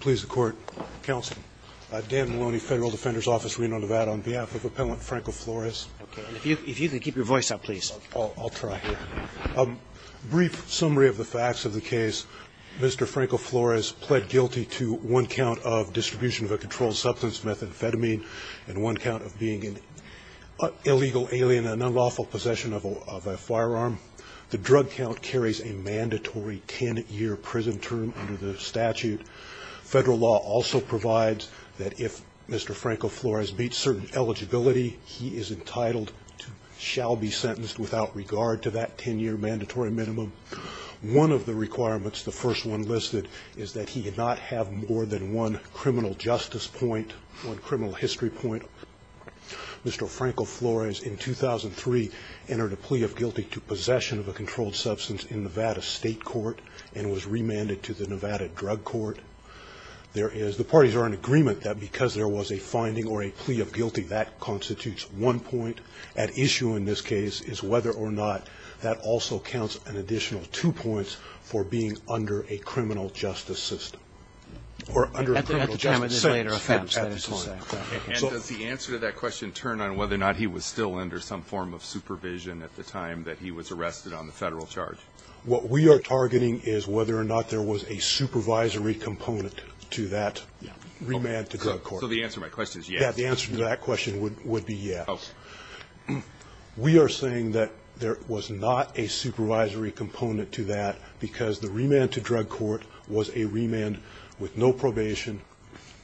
Please the court. Counsel. Dan Maloney, Federal Defender's Office, Reno, Nevada, on behalf of Appellant Franco-Flores. If you can keep your voice up, please. I'll try. Brief summary of the facts of the case. Mr. Franco-Flores pled guilty to one count of distribution of a controlled substance, methamphetamine, and one count of being an illegal alien in unlawful possession of a firearm. The drug count carries a mandatory 10-year prison term under the statute. Federal law also provides that if Mr. Franco-Flores meets certain eligibility, he is entitled to shall be sentenced without regard to that 10-year mandatory minimum. One of the requirements, the first one listed, is that he not have more than one criminal justice point, one criminal history point. Mr. Franco-Flores, in 2003, entered a plea of guilty to possession of a controlled substance in Nevada State Court and was remanded to the Nevada Drug Court. There is the parties are in agreement that because there was a finding or a plea of guilty, that constitutes one point at issue in this case is whether or not that also counts an additional two points for being under a criminal justice system or under criminal justice. That is a later offense that is to say. And does the answer to that question turn on whether or not he was still under some form of supervision at the time that he was arrested on the Federal charge? What we are targeting is whether or not there was a supervisory component to that remand to Drug Court. So the answer to my question is yes. The answer to that question would be yes. Okay. We are saying that there was not a supervisory component to that because the remand to Drug Court was a remand with no probation,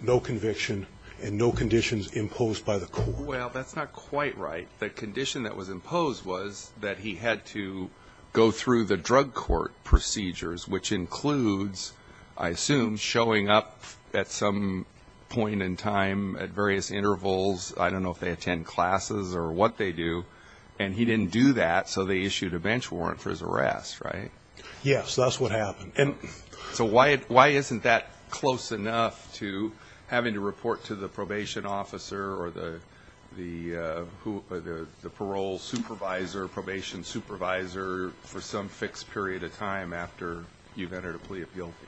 no conviction, and no conditions imposed by the court. Well, that's not quite right. The condition that was imposed was that he had to go through the drug court procedures, which includes, I assume, showing up at some point in time at various intervals. I don't know if they attend classes or what they do. And he didn't do that, so they issued a bench warrant for his arrest, right? Yes. That's what happened. So why isn't that close enough to having to report to the probation officer or the parole supervisor, probation supervisor, for some fixed period of time after you've entered a plea of guilty?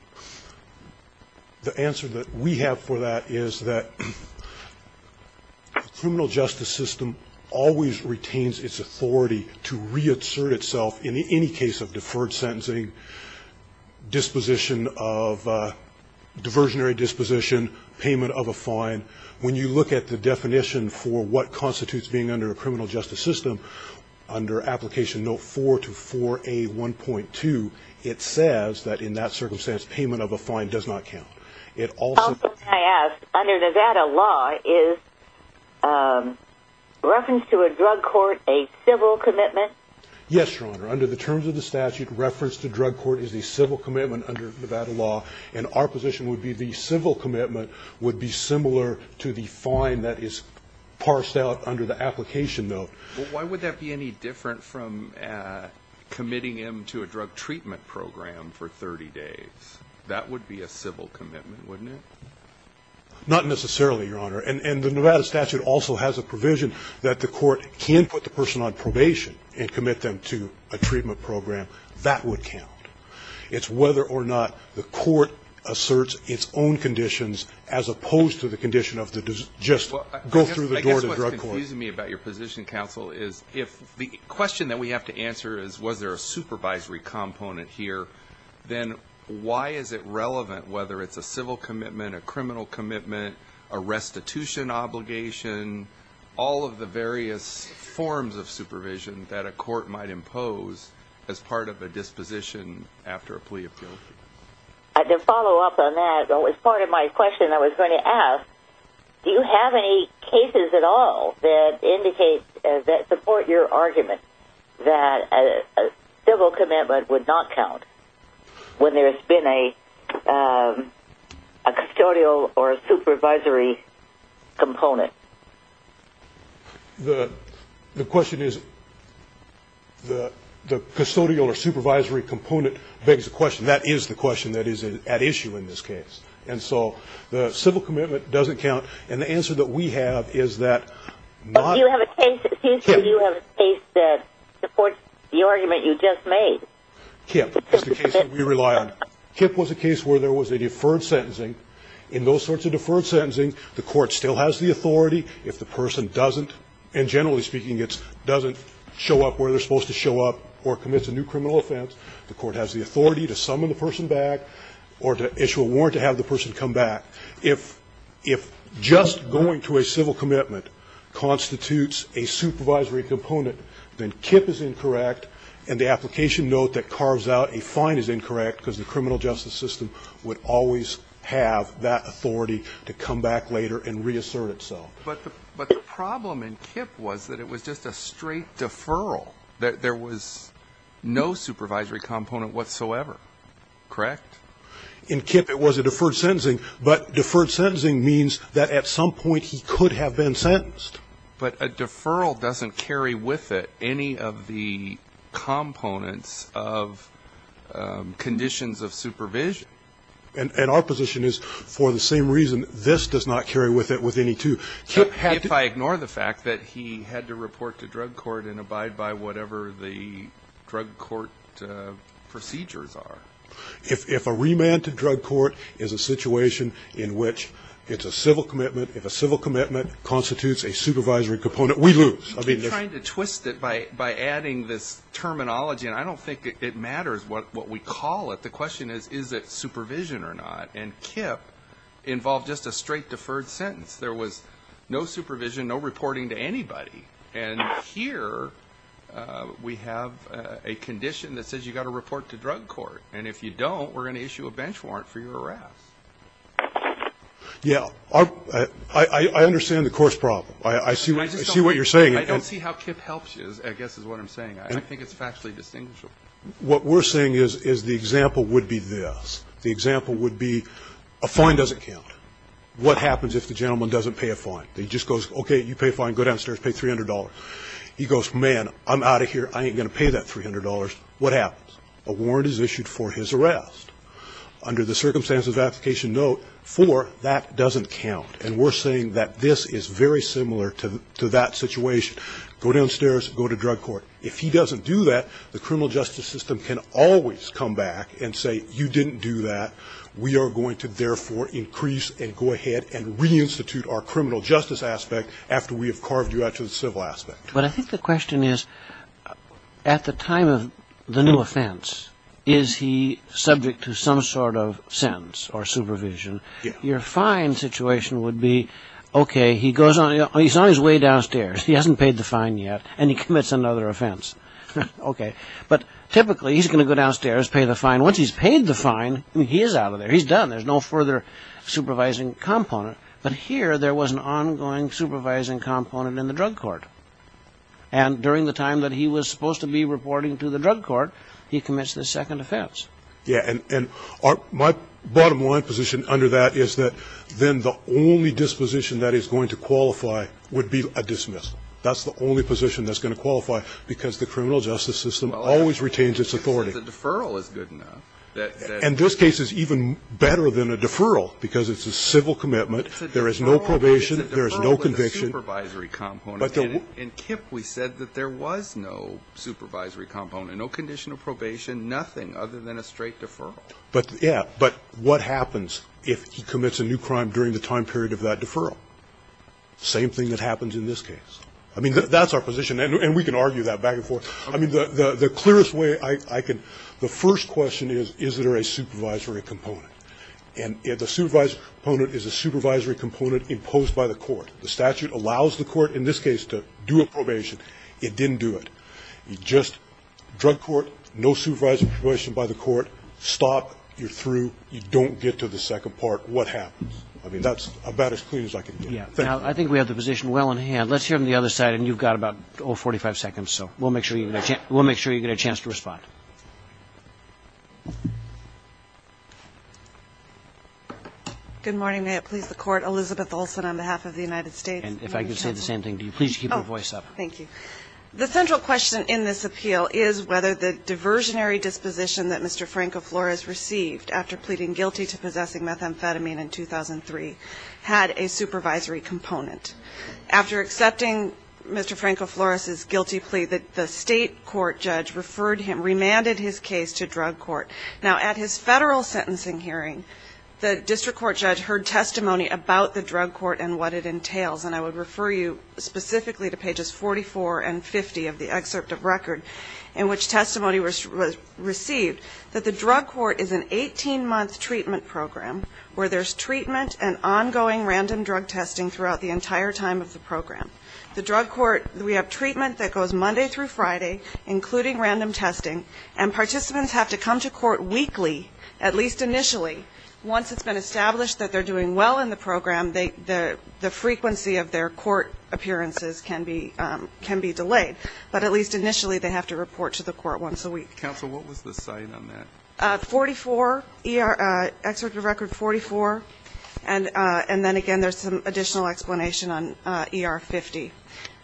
The answer that we have for that is that the criminal justice system always retains its authority to reassert itself in any case of deferred sentencing, disposition of diversionary disposition, payment of a fine. When you look at the definition for what constitutes being under a criminal justice system, under Application Note 4 to 4A1.2, it says that in that circumstance payment of a fine does not count. Also, may I ask, under Nevada law, is reference to a drug court a civil commitment? Yes, Your Honor. Under the terms of the statute, reference to drug court is a civil commitment under Nevada law, and our position would be the civil commitment would be similar to the fine that is parsed out under the Application Note. Why would that be any different from committing him to a drug treatment program for 30 days? That would be a civil commitment, wouldn't it? Not necessarily, Your Honor. And the Nevada statute also has a provision that the court can put the person on probation and commit them to a treatment program. That would count. It's whether or not the court asserts its own conditions as opposed to the condition of just go through the door of the drug court. I guess what's confusing me about your position, counsel, is if the question that we have to answer is, was there a supervisory component here, then why is it relevant, whether it's a civil commitment, a criminal commitment, a restitution obligation, all of the various forms of supervision that a court might impose as part of a disposition after a plea appeal? To follow up on that, as part of my question I was going to ask, do you have any cases at all that support your argument that a civil commitment would not count when there has been a custodial or a supervisory component? The question is, the custodial or supervisory component begs the question. That is the question that is at issue in this case. And so the civil commitment doesn't count. And the answer that we have is that not... Do you have a case that supports the argument you just made? KIPP is the case that we rely on. KIPP was a case where there was a deferred sentencing. In those sorts of deferred sentencing, the court still has the authority. If the person doesn't, and generally speaking it doesn't show up where they're supposed to show up or commits a new criminal offense, the court has the authority to summon the person back or to issue a warrant to have the person come back. If just going to a civil commitment constitutes a supervisory component, then KIPP is incorrect and the application note that carves out a fine is incorrect because the criminal justice system would always have that authority to come back later and reassert itself. But the problem in KIPP was that it was just a straight deferral. There was no supervisory component whatsoever, correct? In KIPP it was a deferred sentencing. But deferred sentencing means that at some point he could have been sentenced. But a deferral doesn't carry with it any of the components of conditions of supervision. And our position is, for the same reason, this does not carry with it with any two. KIPP had to... If I ignore the fact that he had to report to drug court and abide by whatever the drug court procedures are. If a remand to drug court is a situation in which it's a civil commitment, if a civil commitment constitutes a supervisory component, we lose. You're trying to twist it by adding this terminology, and I don't think it matters what we call it. The question is, is it supervision or not? And KIPP involved just a straight deferred sentence. There was no supervision, no reporting to anybody. And here we have a condition that says you've got to report to drug court. And if you don't, we're going to issue a bench warrant for your arrest. Yeah. I understand the court's problem. I see what you're saying. I don't see how KIPP helps you, I guess is what I'm saying. I think it's factually distinguishable. What we're saying is the example would be this. The example would be a fine doesn't count. What happens if the gentleman doesn't pay a fine? He just goes, okay, you pay a fine, go downstairs, pay $300. He goes, man, I'm out of here, I ain't going to pay that $300. What happens? A warrant is issued for his arrest. Under the circumstances of application note 4, that doesn't count. And we're saying that this is very similar to that situation. Go downstairs, go to drug court. If he doesn't do that, the criminal justice system can always come back and say you didn't do that. We are going to therefore increase and go ahead and reinstitute our criminal justice aspect after we have carved you out to the civil aspect. But I think the question is, at the time of the new offense, is he subject to some sort of sentence or supervision? Your fine situation would be, okay, he's on his way downstairs. He hasn't paid the fine yet, and he commits another offense. Okay. But typically he's going to go downstairs, pay the fine. Once he's paid the fine, he is out of there. He's done. There's no further supervising component. But here there was an ongoing supervising component in the drug court. And during the time that he was supposed to be reporting to the drug court, he commenced the second offense. Yeah. And my bottom line position under that is that then the only disposition that is going to qualify would be a dismissal. That's the only position that's going to qualify, because the criminal justice system always retains its authority. The deferral is good enough. And this case is even better than a deferral, because it's a civil commitment. There is no probation. It's a deferral with a supervisory component. In KIPP we said that there was no supervisory component, no condition of probation, nothing other than a straight deferral. But, yeah. But what happens if he commits a new crime during the time period of that deferral? Same thing that happens in this case. I mean, that's our position. And we can argue that back and forth. I mean, the clearest way I can, the first question is, is there a supervisory component? And the supervisory component is a supervisory component imposed by the court. The statute allows the court, in this case, to do a probation. It didn't do it. You just, drug court, no supervisory provision by the court, stop, you're through, you don't get to the second part. What happens? I mean, that's about as clear as I can get. Yeah. Now, I think we have the position well in hand. Let's hear from the other side. And you've got about 45 seconds. So we'll make sure you get a chance to respond. Good morning. May it please the Court. Elizabeth Olson on behalf of the United States. And if I could say the same thing to you. Please keep your voice up. Thank you. The central question in this appeal is whether the diversionary disposition that Mr. Franco-Flores received after pleading guilty to possessing methamphetamine in 2003 had a supervisory component. After accepting Mr. Franco-Flores' guilty plea, the state court judge referred him, remanded his case to drug court. Now, at his federal sentencing hearing, the district court judge heard testimony about the drug court and what it entails. And I would refer you specifically to pages 44 and 50 of the excerpt of record in which testimony was received, that the drug court is an 18-month treatment program where there's treatment and ongoing random drug testing throughout the entire time of the program. The drug court, we have treatment that goes Monday through Friday, including random testing. And participants have to come to court weekly, at least initially. Once it's been established that they're doing well in the program, the frequency of their court appearances can be delayed. But at least initially they have to report to the court once a week. Counsel, what was the site on that? 44, excerpt of record 44, and then again there's some additional explanation on ER 50,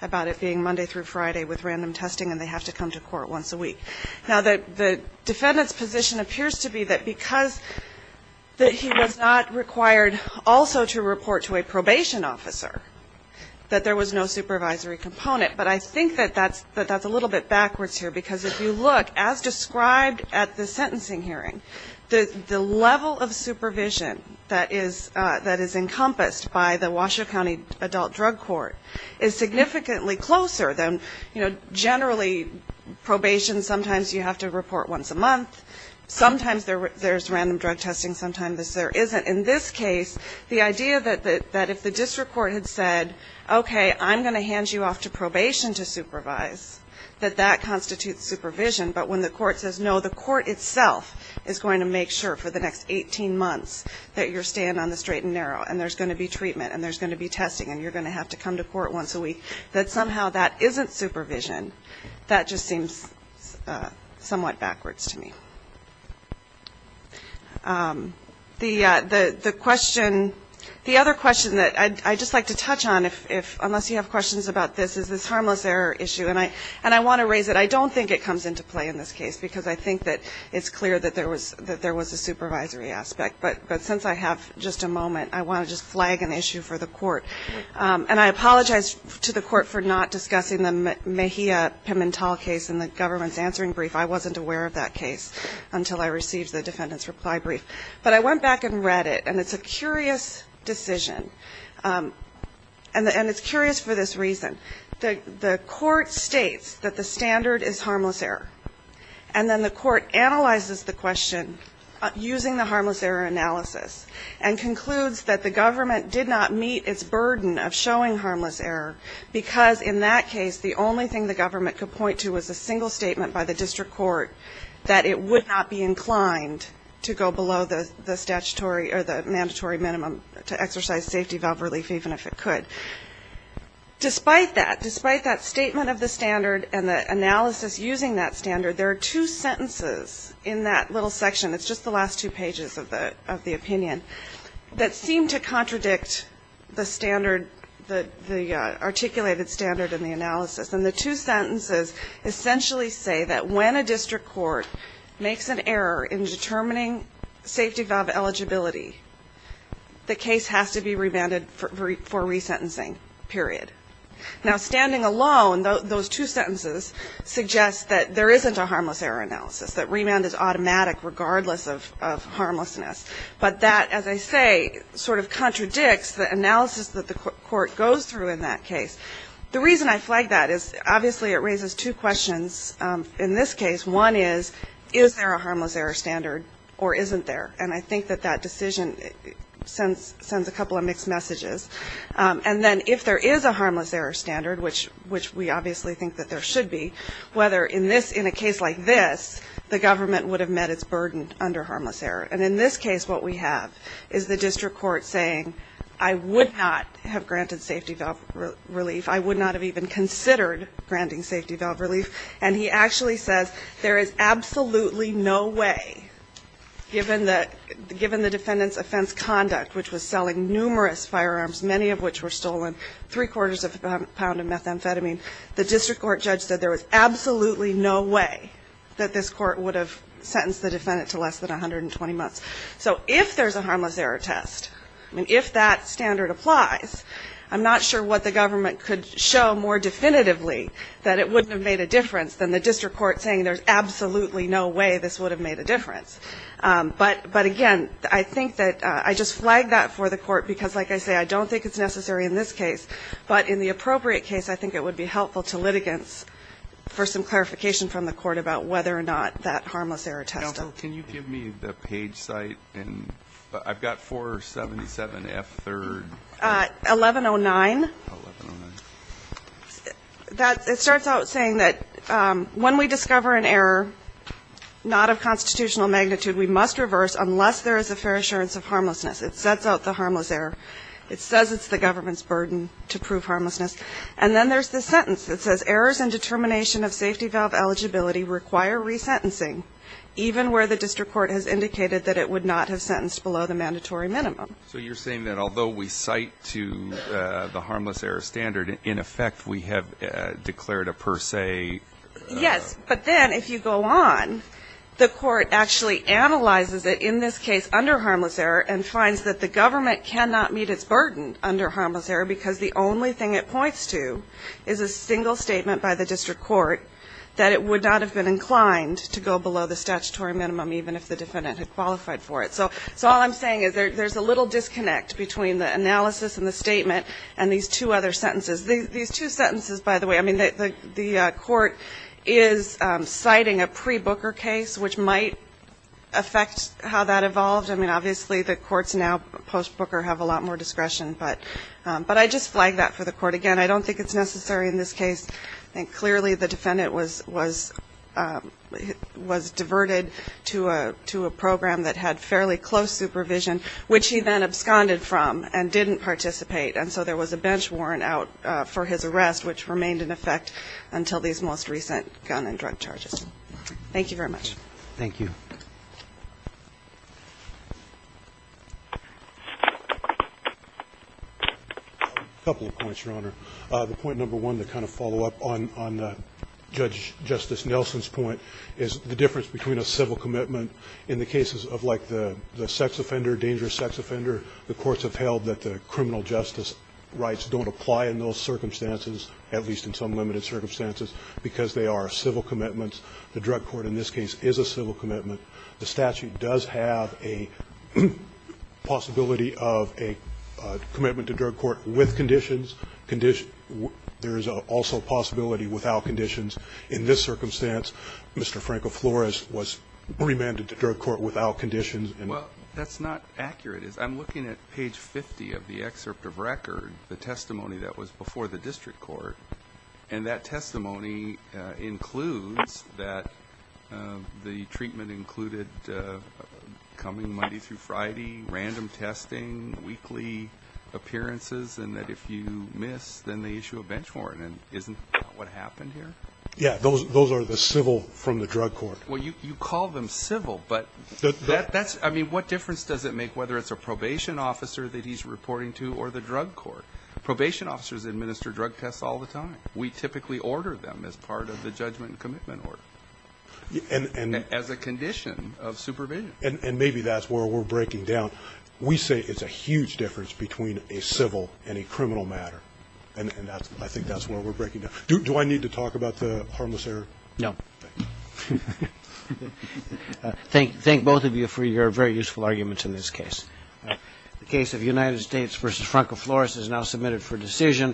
about it being Monday through Friday with random testing and they have to come to court once a week. Now, the defendant's position appears to be that because he was not required also to report to a probation officer, that there was no supervisory component. But I think that that's a little bit backwards here, because if you look, as described at the sentencing hearing, the level of supervision that is encompassed by the Washoe County Adult Drug Court is significantly closer than, you know, generally probation, sometimes you have to report once a month, sometimes there's random drug testing, sometimes there isn't. In this case, the idea that if the district court had said, okay, I'm going to hand you off to probation to supervise, that that constitutes supervision, but when the court says, no, the court itself is going to make sure for the next 18 months that you're staying on the straight and narrow, and there's going to be treatment, and there's going to be testing, and you're going to have to come to court once a week, that somehow that isn't supervision, that just seems somewhat backwards to me. The other question that I'd just like to touch on, unless you have questions about this, is this harmless error issue. And I want to raise it. I don't think it comes into play in this case, because I think that it's clear that there was a supervisory aspect. But since I have just a moment, I want to just flag an issue for the court. And I apologize to the court for not discussing the Mejia Pimentel case in the government's answering brief. I wasn't aware of that case until I received the defendant's reply brief. But I went back and read it, and it's a curious decision, and it's curious for this reason. The court states that the standard is harmless error, and then the court analyzes the question using the harmless error analysis and concludes that the government did not meet its burden of showing harmless error, because in that case the only thing the government could point to was a single statement by the district court that it would not be inclined to go below the mandatory minimum to exercise safety valve relief, even if it could. Despite that, despite that statement of the standard and the analysis using that standard, there are two sentences in that little section, it's just the last two pages of the opinion, that seem to contradict the standard, the articulated standard in the analysis. And the two sentences essentially say that when a district court makes an error in determining safety valve eligibility, the case has to be remanded for resentencing, period. Now, standing alone, those two sentences suggest that there isn't a harmless error analysis, that remand is automatic regardless of harmlessness. But that, as I say, sort of contradicts the analysis that the court goes through in that case. The reason I flag that is obviously it raises two questions in this case. One is, is there a harmless error standard or isn't there? And I think that that decision sends a couple of mixed messages. And then if there is a harmless error standard, which we obviously think that there should be, whether in a case like this the government would have met its burden under harmless error. And in this case what we have is the district court saying, I would not have granted safety valve relief, I would not have even considered granting safety valve relief. And he actually says there is absolutely no way, given the defendant's offense conduct, which was selling numerous firearms, many of which were stolen, three-quarters of a pound of methamphetamine, the district court judge said there was absolutely no way that this court would have sentenced the defendant to less than 120 months. So if there's a harmless error test, I mean, if that standard applies, I'm not sure what the government could show more definitively that it wouldn't have made a difference than the district court saying there's absolutely no way this would have made a difference. But, again, I think that I just flagged that for the court because, like I say, I don't think it's necessary in this case. But in the appropriate case, I think it would be helpful to litigants for some clarification from the court about whether or not that harmless error test. Can you give me the page site? I've got 477F3. 1109. It starts out saying that when we discover an error not of constitutional magnitude, we must reverse unless there is a fair assurance of harmlessness. It sets out the harmless error. It says it's the government's burden to prove harmlessness. And then there's the sentence that says errors in determination of safety valve eligibility require resentencing even where the district court has indicated that it would not have sentenced below the mandatory minimum. So you're saying that although we cite to the harmless error standard, in effect we have declared a per se. Yes. But then if you go on, the court actually analyzes it in this case under harmless error and finds that the government cannot meet its burden under harmless error because the only thing it points to is a single statement by the district court that it would not have been inclined to go below the statutory minimum even if the defendant had qualified for it. So all I'm saying is there's a little disconnect between the analysis and the statement and these two other sentences. These two sentences, by the way, I mean, the court is citing a pre-Booker case, which might affect how that evolved. I mean, obviously the courts now post-Booker have a lot more discretion. But I just flagged that for the court. Again, I don't think it's necessary in this case. I think clearly the defendant was diverted to a program that had fairly close supervision, which he then absconded from and didn't participate. And so there was a bench warrant out for his arrest, which remained in effect until these most recent gun and drug charges. Thank you very much. Thank you. A couple of points, Your Honor. The point number one to kind of follow up on Judge Justice Nelson's point is the difference between a civil commitment in the cases of, like, the sex offender, dangerous sex offender. The courts have held that the criminal justice rights don't apply in those circumstances, at least in some limited circumstances, because they are civil commitments. The drug court in this case is a civil commitment. The statute does have a possibility of a commitment to drug court with conditions, there is also a possibility without conditions. In this circumstance, Mr. Franco Flores was remanded to drug court without conditions. Well, that's not accurate. I'm looking at page 50 of the excerpt of record, the testimony that was before the district court, and that testimony includes that the treatment included coming Monday through Friday, random testing, weekly appearances, and that if you miss, then they issue a bench warrant, and isn't that what happened here? Yeah, those are the civil from the drug court. Well, you call them civil, but that's, I mean, what difference does it make whether it's a probation officer that he's reporting to or the drug court? Probation officers administer drug tests all the time. We typically order them as part of the judgment and commitment order, as a condition of supervision. And maybe that's where we're breaking down. So we say it's a huge difference between a civil and a criminal matter, and I think that's where we're breaking down. Do I need to talk about the harmless error? No. Thank both of you for your very useful arguments in this case. The case of United States v. Franco Flores is now submitted for decision.